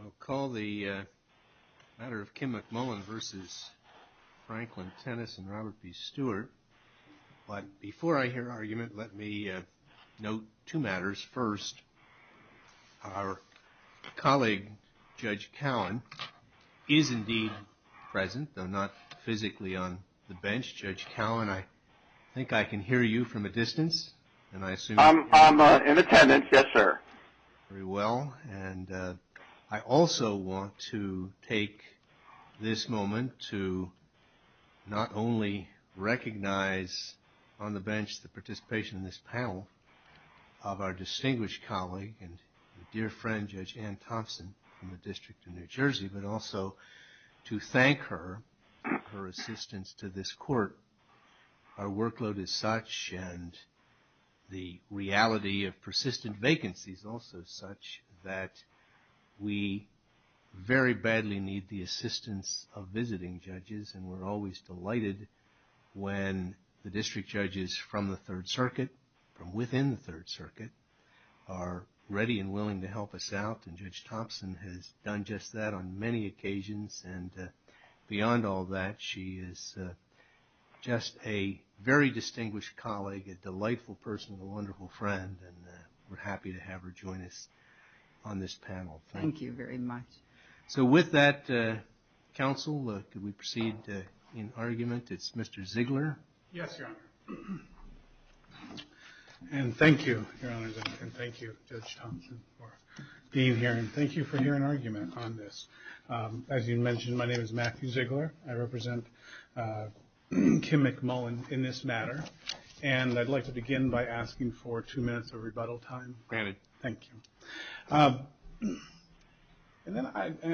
I'll call the matter of Kim McMullen v. Franklin Tennis and Robert B. Stewart. But before I hear argument, let me note two matters. First, our colleague, Judge Cowan, is indeed present, though not physically on the bench. Judge Cowan, I think I can hear you from a distance. I'm in attendance, yes, sir. Very well. And I also want to take this moment to not only recognize on the bench the participation in this panel of our distinguished colleague and dear friend, Judge Ann Thompson from the District of New Jersey, but also to thank her for her assistance to this court. Our workload is such, and the reality of persistent vacancies also such, that we very badly need the assistance of visiting judges. And we're always delighted when the district judges from the Third Circuit, from within the Third Circuit, are ready and willing to help us out. And Judge Thompson has done just that on many occasions. And beyond all that, she is just a very distinguished colleague, a delightful person, and a wonderful friend. And we're happy to have her join us on this panel. Thank you very much. So with that, counsel, could we proceed in argument? It's Mr. Ziegler. Yes, Your Honor. And thank you, Your Honor, and thank you, Judge Thompson, for being here. And thank you for hearing argument on this. As you mentioned, my name is Matthew Ziegler. I represent Kim McMullen in this matter. And I'd like to begin by asking for two minutes of rebuttal time. Granted. Thank you. And then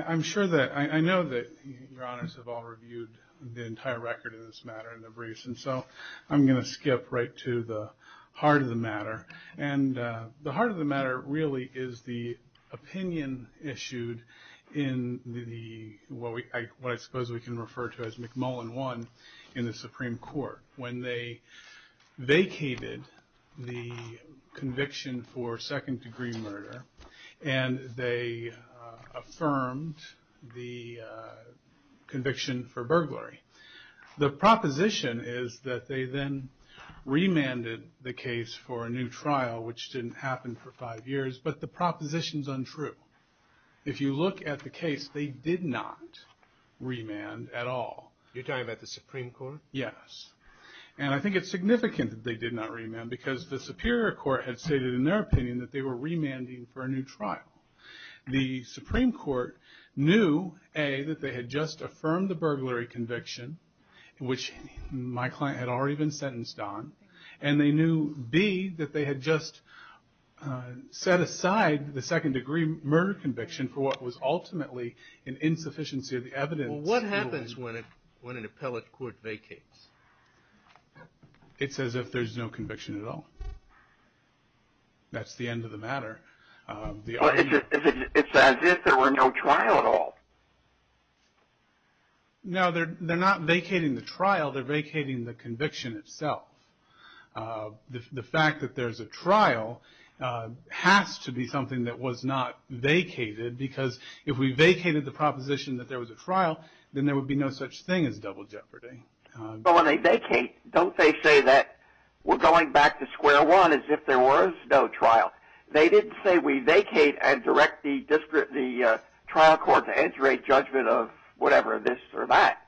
I'm sure that I know that Your Honors have all reviewed the entire record of this matter in the briefs, and so I'm going to skip right to the heart of the matter. And the heart of the matter really is the opinion issued in what I suppose we can refer to as McMullen 1 in the Supreme Court when they vacated the conviction for second-degree murder and they affirmed the conviction for burglary. The proposition is that they then remanded the case for a new trial, which didn't happen for five years, but the proposition's untrue. If you look at the case, they did not remand at all. You're talking about the Supreme Court? Yes. And I think it's significant that they did not remand because the Superior Court had stated in their opinion that they were remanding for a new trial. The Supreme Court knew, A, that they had just affirmed the burglary conviction, which my client had already been sentenced on, and they knew, B, that they had just set aside the second-degree murder conviction for what was ultimately an insufficiency of the evidence. Well, what happens when an appellate court vacates? It's as if there's no conviction at all. That's the end of the matter. It's as if there were no trial at all. No, they're not vacating the trial. They're vacating the conviction itself. The fact that there's a trial has to be something that was not vacated because if we vacated the proposition that there was a trial, then there would be no such thing as double jeopardy. But when they vacate, don't they say that we're going back to square one as if there was no trial? They didn't say we vacate and direct the trial court to enter a judgment of whatever this or that.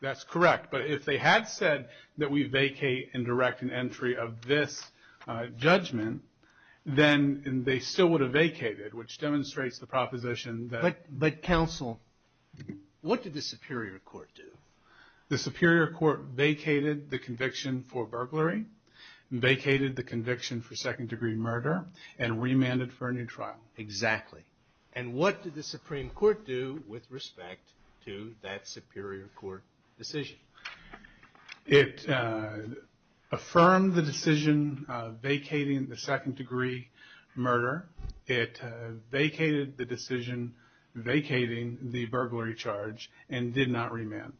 That's correct. But if they had said that we vacate and direct an entry of this judgment, then they still would have vacated, which demonstrates the proposition that... But, counsel, what did the Superior Court do? The Superior Court vacated the conviction for burglary, vacated the conviction for second-degree murder, and remanded for a new trial. Exactly. And what did the Supreme Court do with respect to that Superior Court decision? It affirmed the decision vacating the second-degree murder. It vacated the decision vacating the burglary charge and did not remand.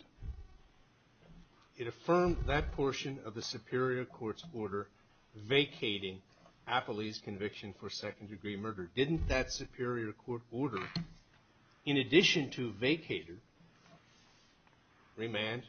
It affirmed that portion of the Superior Court's order vacating Apolli's conviction for second-degree murder. Didn't that Superior Court order, in addition to vacater, remand?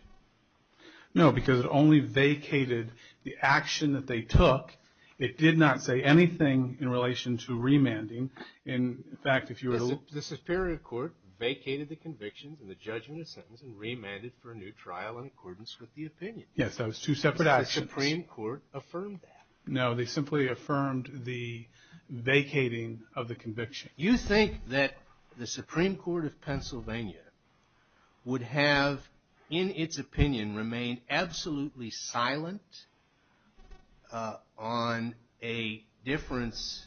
No, because it only vacated the action that they took. It did not say anything in relation to remanding. In fact, if you were to look... The Superior Court vacated the convictions and the judgment of sentence and remanded for a new trial in accordance with the opinion. Yes, those two separate actions. The Supreme Court affirmed that. No, they simply affirmed the vacating of the conviction. You think that the Supreme Court of Pennsylvania would have, in its opinion, remained absolutely silent on a difference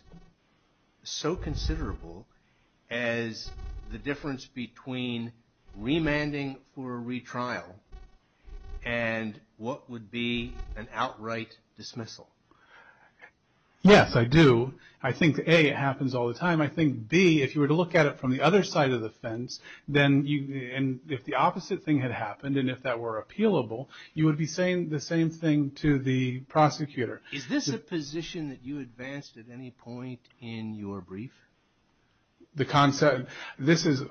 so considerable as the difference between remanding for a retrial and what would be an outright dismissal? Yes, I do. I think, A, it happens all the time. I think, B, if you were to look at it from the other side of the fence, and if the opposite thing had happened and if that were appealable, you would be saying the same thing to the prosecutor. Is this a position that you advanced at any point in your brief? The concept... This is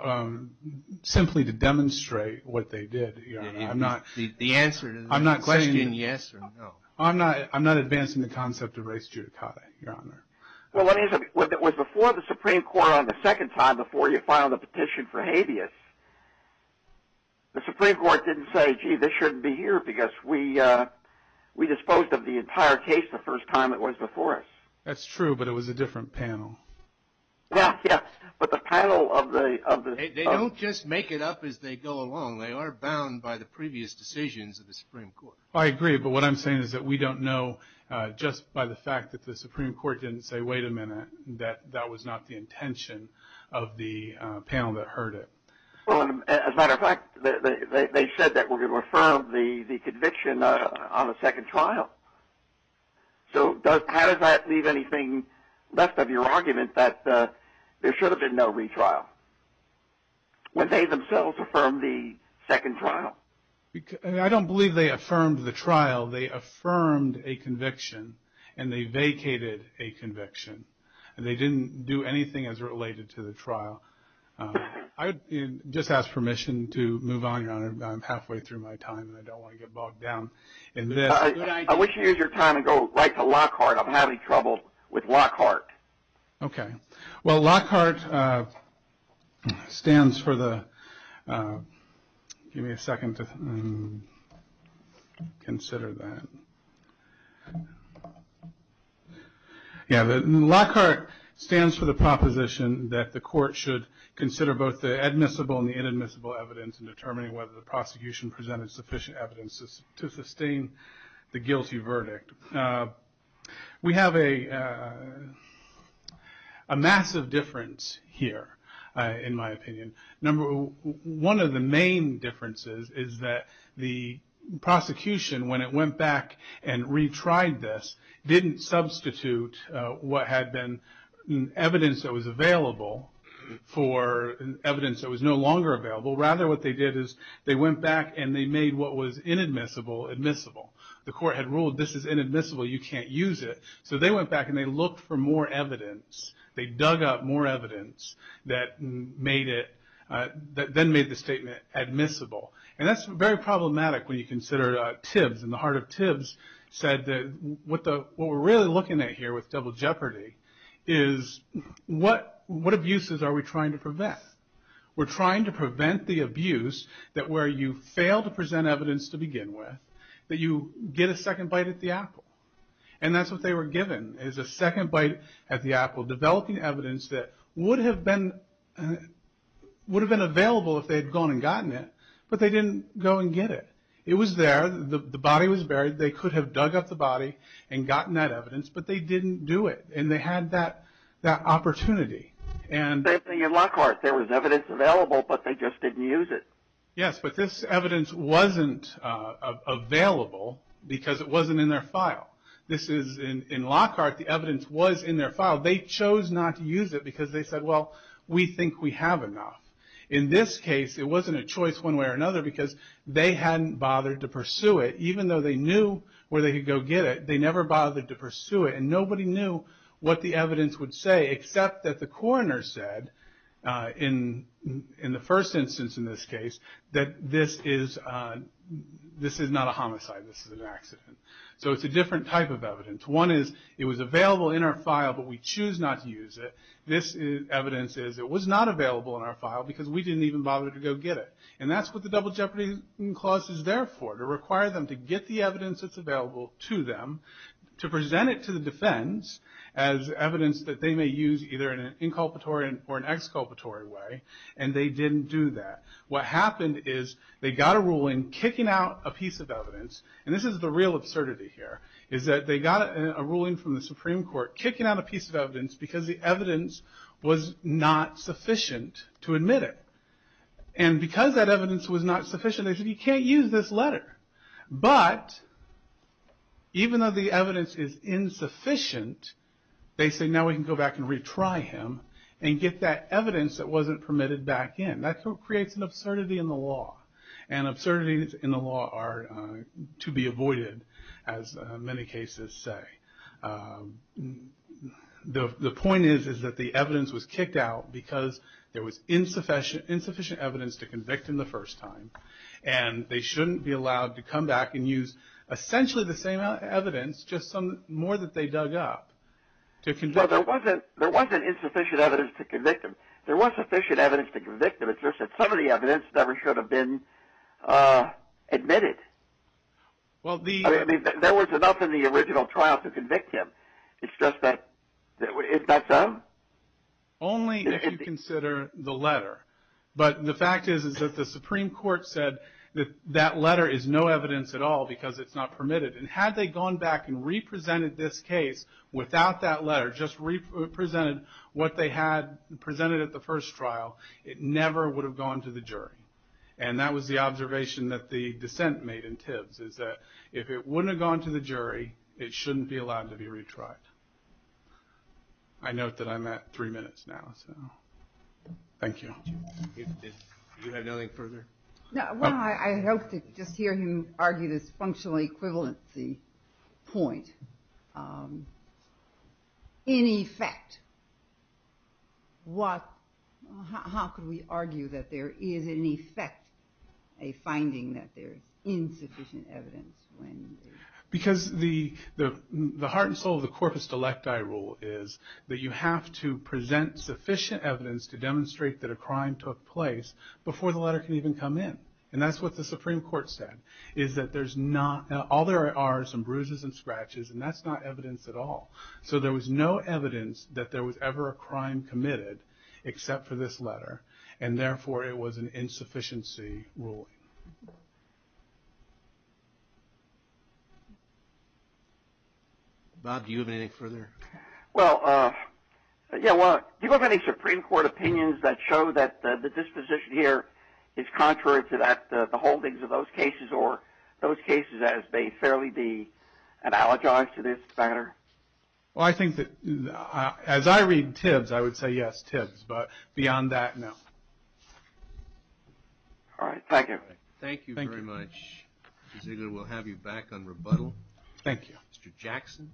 simply to demonstrate what they did, Your Honor. The answer to the question, yes or no. I'm not advancing the concept of res judicata, Your Honor. Well, it was before the Supreme Court on the second time before you filed a petition for habeas. The Supreme Court didn't say, gee, this shouldn't be here, because we disposed of the entire case the first time it was before us. That's true, but it was a different panel. Yes, but the panel of the... They don't just make it up as they go along. They are bound by the previous decisions of the Supreme Court. I agree, but what I'm saying is that we don't know just by the fact that the Supreme Court didn't say, wait a minute, that that was not the intention of the panel that heard it. As a matter of fact, they said that we were going to affirm the conviction on the second trial. So how does that leave anything left of your argument that there should have been no retrial when they themselves affirmed the second trial? Well, they affirmed a conviction, and they vacated a conviction, and they didn't do anything as related to the trial. I would just ask permission to move on, Your Honor. I'm halfway through my time, and I don't want to get bogged down in this. I wish you'd use your time and go right to Lockhart. I'm having trouble with Lockhart. Okay. Well, Lockhart stands for the proposition that the court should consider both the admissible and the inadmissible evidence in determining whether the prosecution presented sufficient evidence to sustain the guilty verdict. We have a massive difference here, in my opinion. One of the main differences is that the prosecution, when it went back and retried this, didn't substitute what had been evidence that was available for evidence that was no longer available. Rather, what they did is they went back and they made what was inadmissible admissible. The court had ruled, this is inadmissible, you can't use it. So they went back and they looked for more evidence. They dug up more evidence that then made the statement admissible. And that's very problematic when you consider Tibbs, and the heart of Tibbs said that what we're really looking at here with double jeopardy is, what abuses are we trying to prevent? We're trying to prevent the abuse that where you fail to present evidence to begin with, that you get a second bite at the apple. And that's what they were given, is a second bite at the apple, developing evidence that would have been available if they had gone and gotten it, but they didn't go and get it. It was there. The body was buried. They could have dug up the body and gotten that evidence, but they didn't do it. And they had that opportunity. The same thing in Lockhart. There was evidence available, but they just didn't use it. Yes, but this evidence wasn't available because it wasn't in their file. In Lockhart, the evidence was in their file. They chose not to use it because they said, well, we think we have enough. In this case, it wasn't a choice one way or another because they hadn't bothered to pursue it. Even though they knew where they could go get it, they never bothered to pursue it, and nobody knew what the evidence would say, except that the coroner said, in the first instance in this case, that this is not a homicide. This is an accident. So it's a different type of evidence. One is, it was available in our file, but we choose not to use it. This evidence is, it was not available in our file because we didn't even bother to go get it. And that's what the Double Jeopardy clause is there for, to require them to get the evidence that's available to them, to present it to the defense as evidence that they may use either in an inculpatory or an exculpatory way, and they didn't do that. What happened is they got a ruling kicking out a piece of evidence, and this is the real absurdity here, is that they got a ruling from the Supreme Court kicking out a piece of evidence because the evidence was not sufficient to admit it. And because that evidence was not sufficient, they said, you can't use this letter. But even though the evidence is insufficient, they say now we can go back and retry him and get that evidence that wasn't permitted back in. That creates an absurdity in the law, and absurdities in the law are to be avoided, as many cases say. The point is that the evidence was kicked out because there was insufficient evidence to convict him the first time, and they shouldn't be allowed to come back and use essentially the same evidence, just some more that they dug up to convict him. Well, there wasn't insufficient evidence to convict him. There was sufficient evidence to convict him. It's just that some of the evidence never should have been admitted. I mean, there was enough in the original trial to convict him. It's just that, is that so? Only if you consider the letter. But the fact is that the Supreme Court said that that letter is no evidence at all because it's not permitted. And had they gone back and represented this case without that letter, just represented what they had presented at the first trial, it never would have gone to the jury. And that was the observation that the dissent made in Tibbs, is that if it wouldn't have gone to the jury, it shouldn't be allowed to be retried. I note that I'm at three minutes now, so thank you. You have nothing further? Well, I hope to just hear him argue this functional equivalency point. In effect, how can we argue that there is in effect a finding that there is insufficient evidence? Because the heart and soul of the corpus delecti rule is that you have to present sufficient evidence to demonstrate that a crime took place before the letter can even come in. And that's what the Supreme Court said, is that all there are are some bruises and scratches, and that's not evidence at all. So there was no evidence that there was ever a crime committed except for this letter, and therefore it was an insufficiency ruling. Bob, do you have anything further? Well, do you have any Supreme Court opinions that show that the disposition here is contrary to the holdings of those cases, or those cases as they fairly be analogized to this matter? Well, I think that as I read Tibbs, I would say yes, Tibbs. But beyond that, no. All right. Thank you. Thank you very much. Mr. Ziegler, we'll have you back on rebuttal. Thank you. Mr. Jackson.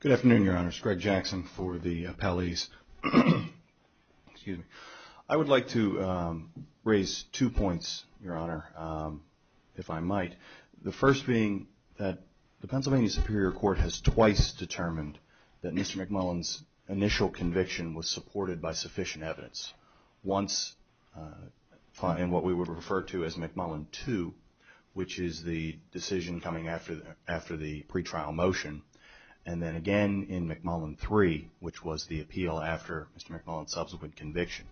Good afternoon, Your Honor. It's Greg Jackson for the appellees. I would like to raise two points, Your Honor, if I might. The first being that the Pennsylvania Superior Court has twice determined that Mr. McMullin's initial conviction was supported by sufficient evidence. Once in what we would refer to as McMullin 2, which is the decision coming after the pretrial motion, and then again in McMullin 3, which was the appeal after Mr. McMullin's subsequent conviction.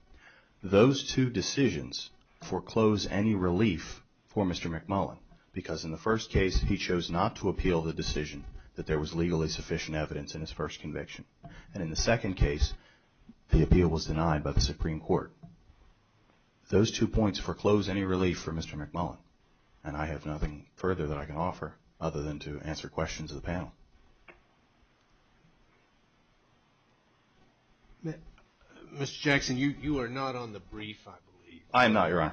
Those two decisions foreclose any relief for Mr. McMullin, because in the first case, he chose not to appeal the decision that there was legally sufficient evidence in his first conviction. And in the second case, the appeal was denied by the Supreme Court. Those two points foreclose any relief for Mr. McMullin, and I have nothing further that I can offer other than to answer questions of the panel. Mr. Jackson, you are not on the brief, I believe. I am not, Your Honor.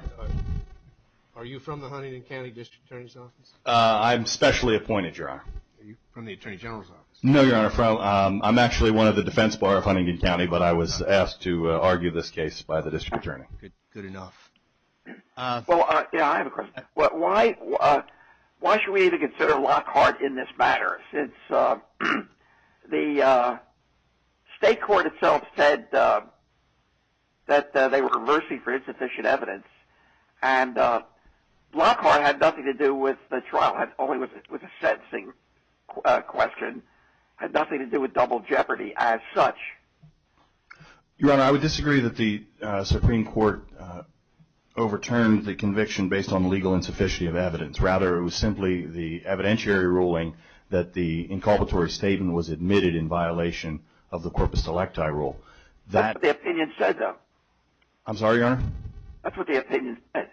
Are you from the Huntington County District Attorney's Office? I'm specially appointed, Your Honor. Are you from the Attorney General's Office? No, Your Honor. I'm actually one of the defense bar of Huntington County, but I was asked to argue this case by the district attorney. Good enough. Well, I have a question. Why should we even consider Lockhart in this matter, since the state court itself said that they were conversing for insufficient evidence, and Lockhart had nothing to do with the trial, only with the sentencing question, had nothing to do with double jeopardy as such. Your Honor, I would disagree that the Supreme Court overturned the conviction based on legal insufficiency of evidence. Rather, it was simply the evidentiary ruling that the inculpatory statement was admitted in violation of the corpus electi rule. That's what the opinion said, though. I'm sorry, Your Honor? That's what the opinion said.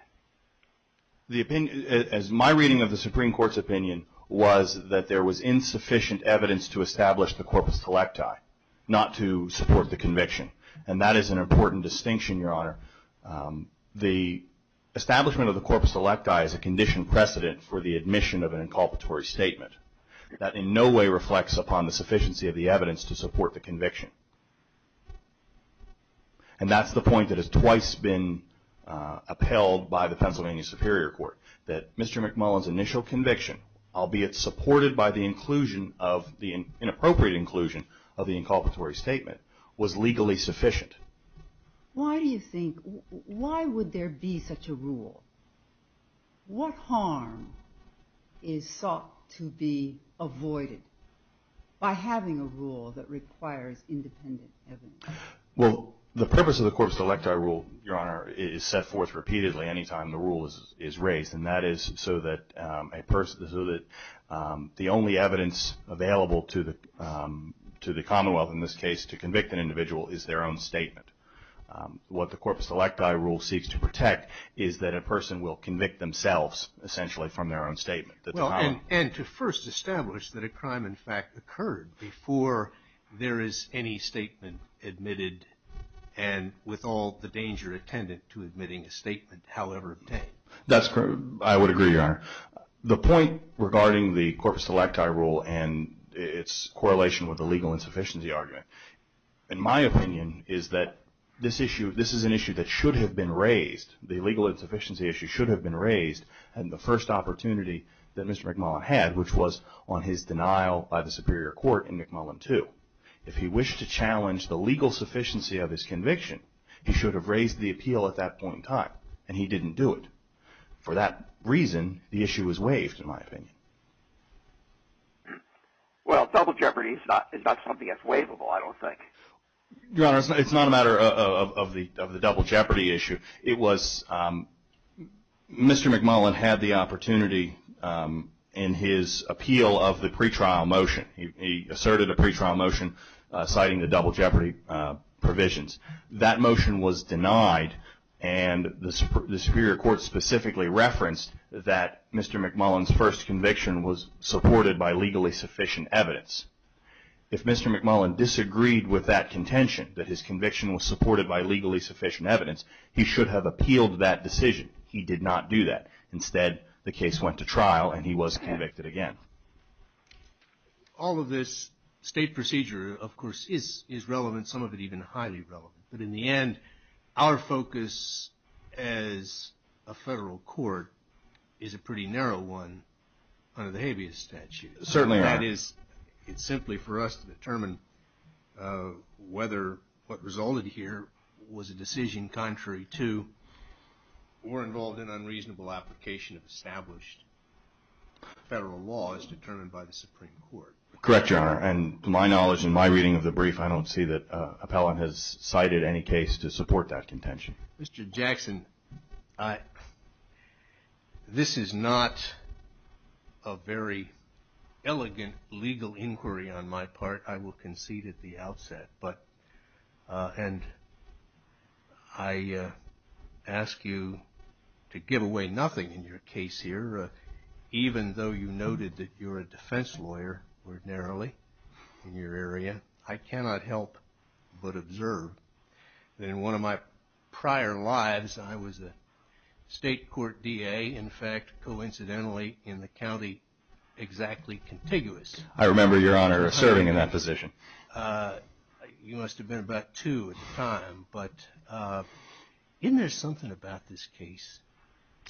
My reading of the Supreme Court's opinion was that there was insufficient evidence to establish the corpus electi, not to support the conviction, and that is an important distinction, Your Honor. The establishment of the corpus electi is a condition precedent for the admission of an inculpatory statement. That in no way reflects upon the sufficiency of the evidence to support the conviction, and that's the point that has twice been upheld by the Pennsylvania Superior Court, that Mr. McMullin's initial conviction, albeit supported by the inappropriate inclusion of the inculpatory statement, was legally sufficient. Why do you think, why would there be such a rule? What harm is sought to be avoided by having a rule that requires independent evidence? Well, the purpose of the corpus electi rule, Your Honor, is set forth repeatedly any time the rule is raised, and that is so that the only evidence available to the Commonwealth in this case to convict an individual is their own statement. What the corpus electi rule seeks to protect is that a person will convict themselves essentially from their own statement. And to first establish that a crime in fact occurred before there is any statement admitted and with all the danger attendant to admitting a statement however obtained. That's correct. I would agree, Your Honor. The point regarding the corpus electi rule and its correlation with the legal insufficiency argument, in my opinion, is that this issue, this is an issue that should have been raised. The legal insufficiency issue should have been raised in the first opportunity that Mr. McMullin had, which was on his denial by the Superior Court in McMullin II. If he wished to challenge the legal sufficiency of his conviction, he should have raised the appeal at that point in time, and he didn't do it. For that reason, the issue was waived, in my opinion. Well, double jeopardy is not something that's waivable, I don't think. Your Honor, it's not a matter of the double jeopardy issue. It was Mr. McMullin had the opportunity in his appeal of the pretrial motion. He asserted a pretrial motion citing the double jeopardy provisions. That motion was denied, and the Superior Court specifically referenced that Mr. McMullin's first conviction was supported by legally sufficient evidence. If Mr. McMullin disagreed with that contention, that his conviction was supported by legally sufficient evidence, he should have appealed that decision. He did not do that. Instead, the case went to trial, and he was convicted again. All of this state procedure, of course, is relevant, some of it even highly relevant. But in the end, our focus as a federal court is a pretty narrow one under the habeas statute. Certainly, that is, it's simply for us to determine whether what resulted here was a decision contrary to or involved in unreasonable application of established federal law as determined by the Supreme Court. Correct, Your Honor. And to my knowledge, in my reading of the brief, I don't see that Appellant has cited any case to support that contention. Mr. Jackson, this is not a very elegant legal inquiry on my part. I will concede at the outset. And I ask you to give away nothing in your case here. Even though you noted that you're a defense lawyer ordinarily in your area, I cannot help but observe that in one of my prior lives, I was a state court DA, in fact, coincidentally, in the county exactly contiguous. I remember, Your Honor, serving in that position. You must have been about two at the time. But isn't there something about this case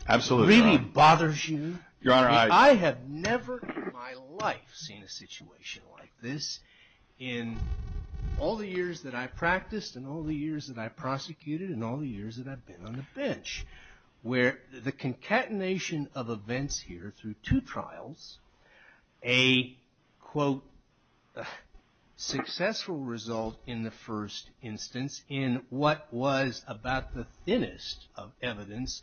that really bothers you? Your Honor, I have never in my life seen a situation like this in all the years that I practiced, and all the years that I prosecuted, and all the years that I've been on the bench, where the concatenation of events here through two trials, a, quote, successful result in the first instance, in what was about the thinnest of evidence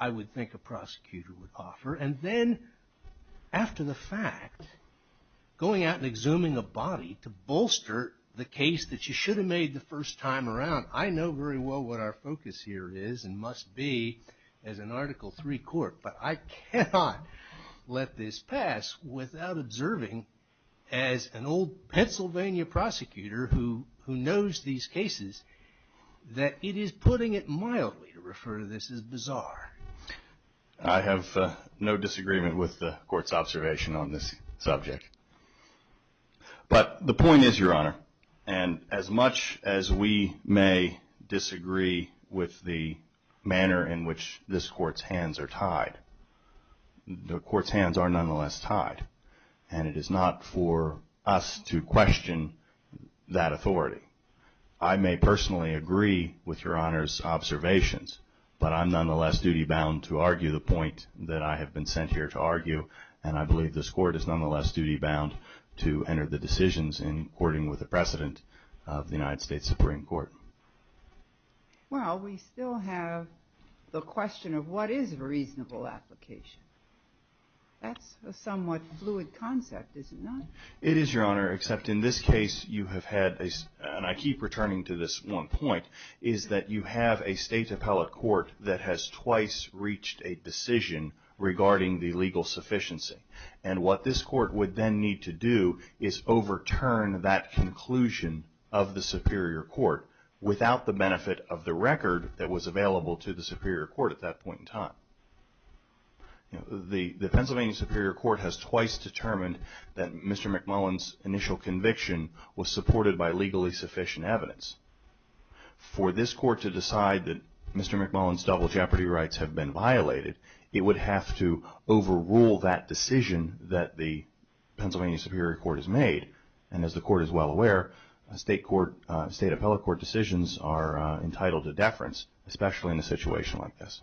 I would think a prosecutor would offer. And then after the fact, going out and exhuming a body to bolster the case that you should have made the first time around. I know very well what our focus here is and must be as an Article III court, but I cannot let this pass without observing, as an old Pennsylvania prosecutor who knows these cases, that it is putting it mildly to refer to this as bizarre. I have no disagreement with the court's observation on this subject. But the point is, Your Honor, and as much as we may disagree with the manner in which this court's hands are tied, the court's hands are nonetheless tied. And it is not for us to question that authority. I may personally agree with Your Honor's observations, but I'm nonetheless duty-bound to argue the point that I have been sent here to argue, and I believe this court is nonetheless duty-bound to enter the decisions in according with the precedent of the United States Supreme Court. Well, we still have the question of what is a reasonable application. That's a somewhat fluid concept, is it not? It is, Your Honor, except in this case you have had, and I keep returning to this one point, is that you have a state appellate court that has twice reached a decision regarding the legal sufficiency. And what this court would then need to do is overturn that conclusion of the Superior Court without the benefit of the record that was available to the Superior Court at that point in time. The Pennsylvania Superior Court has twice determined that Mr. McMullen's initial conviction was supported by legally sufficient evidence. For this court to decide that Mr. McMullen's double jeopardy rights have been violated, it would have to overrule that decision that the Pennsylvania Superior Court has made. And as the court is well aware, state appellate court decisions are entitled to deference, especially in a situation like this.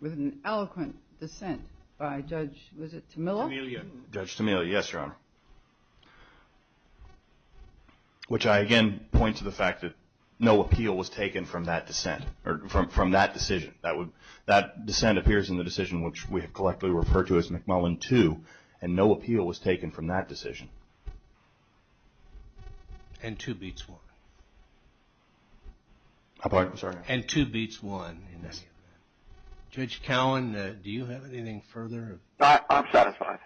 With an eloquent dissent by Judge, was it Tamela? Which I again point to the fact that no appeal was taken from that dissent, or from that decision. That dissent appears in the decision which we have collectively referred to as McMullen 2, and no appeal was taken from that decision. And 2 beats 1. I'm sorry? And 2 beats 1. Judge Cowen, do you have anything further? I'm satisfied.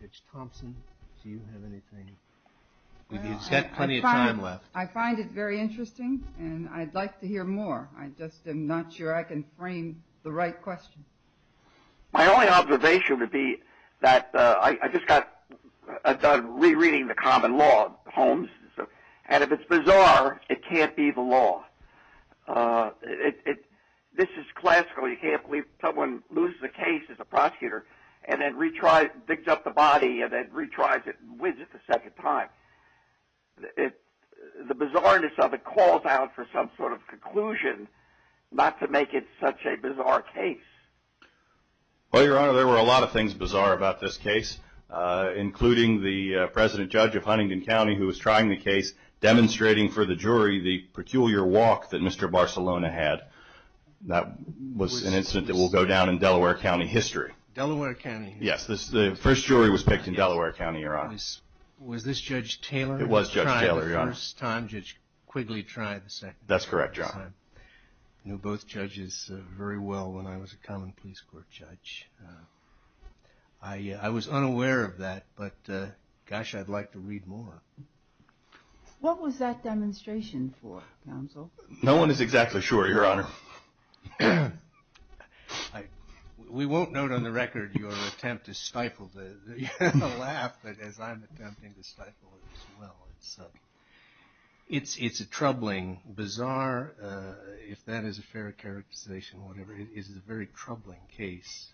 Judge Thompson, do you have anything? You've got plenty of time left. I find it very interesting, and I'd like to hear more. I just am not sure I can frame the right question. My only observation would be that I just got done rereading the common law, Holmes. And if it's bizarre, it can't be the law. This is classical. You can't believe someone loses a case as a prosecutor and then retries, digs up the body and then retries it and wins it the second time. The bizarreness of it calls out for some sort of conclusion not to make it such a bizarre case. Well, Your Honor, there were a lot of things bizarre about this case, including the President Judge of Huntington County who was trying the case, demonstrating for the jury the peculiar walk that Mr. Barcelona had. That was an incident that will go down in Delaware County history. Delaware County history? Yes, the first jury was picked in Delaware County, Your Honor. Was this Judge Taylor who tried the first time, Judge Quigley tried the second time? That's correct, Your Honor. I knew both judges very well when I was a common police court judge. I was unaware of that, but gosh, I'd like to read more. What was that demonstration for, counsel? No one is exactly sure, Your Honor. We won't note on the record your attempt to stifle the laugh, but as I'm attempting to stifle it as well. It's a troubling, bizarre, if that is a fair characterization, whatever, it is a very troubling case,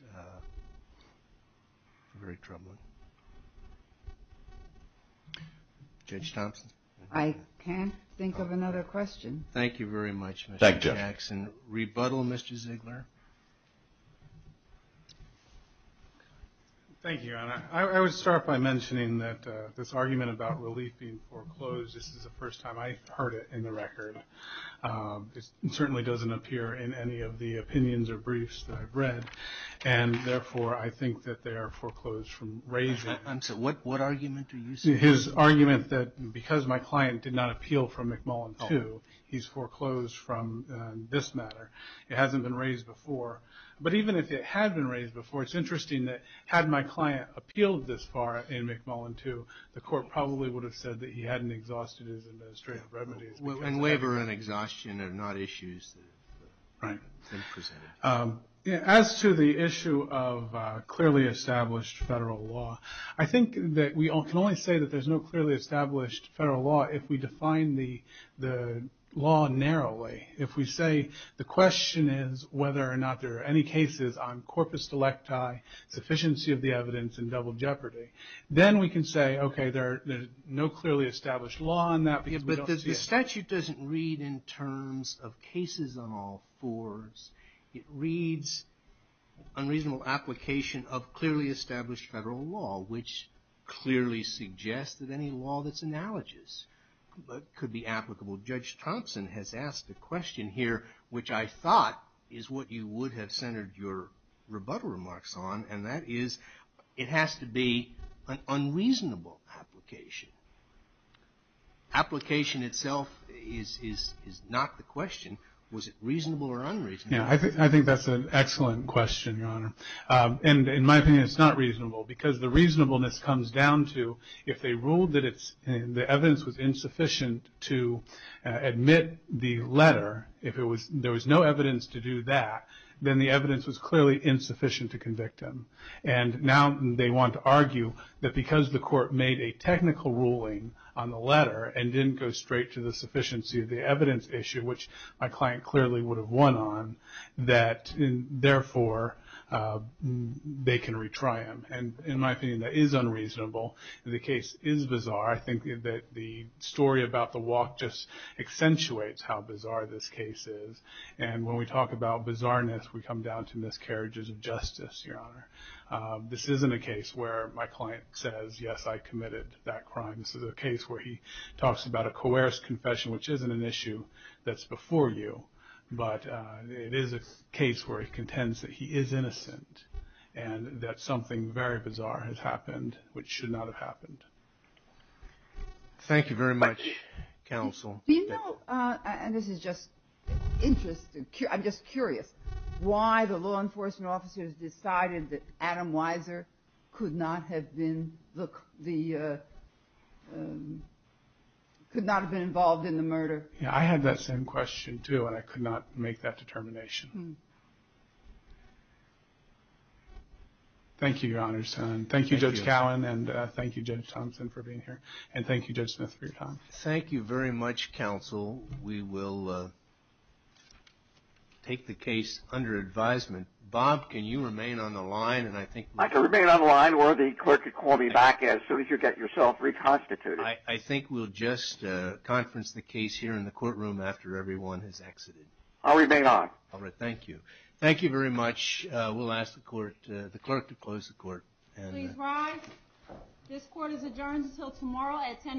very troubling. Judge Thompson? I can't think of another question. Thank you very much, Mr. Jackson. Rebuttal, Mr. Ziegler? Thank you, Your Honor. I would start by mentioning that this argument about relief being foreclosed, this is the first time I've heard it in the record. It certainly doesn't appear in any of the opinions or briefs that I've read, and therefore I think that they are foreclosed from raising. What argument are you saying? His argument that because my client did not appeal from McMullen II, he's foreclosed from this matter. It hasn't been raised before. But even if it had been raised before, it's interesting that had my client appealed this far in McMullen II, the court probably would have said that he hadn't exhausted his administrative remedies. And labor and exhaustion are not issues that have been presented. As to the issue of clearly established federal law, I think that we can only say that there's no clearly established federal law if we define the law narrowly. If we say the question is whether or not there are any cases on corpus delecti, sufficiency of the evidence, and double jeopardy, then we can say, okay, there's no clearly established law on that. But the statute doesn't read in terms of cases on all fours. It reads unreasonable application of clearly established federal law, which clearly suggests that any law that's analogous could be applicable. Judge Thompson has asked a question here, which I thought is what you would have centered your rebuttal remarks on, and that is it has to be an unreasonable application. Application itself is not the question. Was it reasonable or unreasonable? I think that's an excellent question, Your Honor. In my opinion, it's not reasonable because the reasonableness comes down to if they ruled that the evidence was insufficient to admit the letter, if there was no evidence to do that, then the evidence was clearly insufficient to convict him. And now they want to argue that because the court made a technical ruling on the letter and didn't go straight to the sufficiency of the evidence issue, which my client clearly would have won on, that therefore they can retry him. And in my opinion, that is unreasonable. The case is bizarre. I think that the story about the walk just accentuates how bizarre this case is. And when we talk about bizarreness, we come down to miscarriages of justice, Your Honor. This isn't a case where my client says, yes, I committed that crime. This is a case where he talks about a coerced confession, which isn't an issue that's before you. But it is a case where he contends that he is innocent and that something very bizarre has happened which should not have happened. Thank you very much, counsel. Do you know, and this is just interesting, I'm just curious, why the law enforcement officers decided that Adam Weiser could not have been the ‑‑ I had that same question, too, and I could not make that determination. Thank you, Your Honor. Thank you, Judge Callen, and thank you, Judge Thompson, for being here. And thank you, Judge Smith, for your time. Thank you very much, counsel. We will take the case under advisement. Bob, can you remain on the line? I can remain on the line or the clerk can call me back as soon as you get yourself reconstituted. I think we'll just conference the case here in the courtroom after everyone has exited. I'll remain on. All right, thank you. Thank you very much. We'll ask the clerk to close the court. Please rise. This court is adjourned until tomorrow at 10 a.m.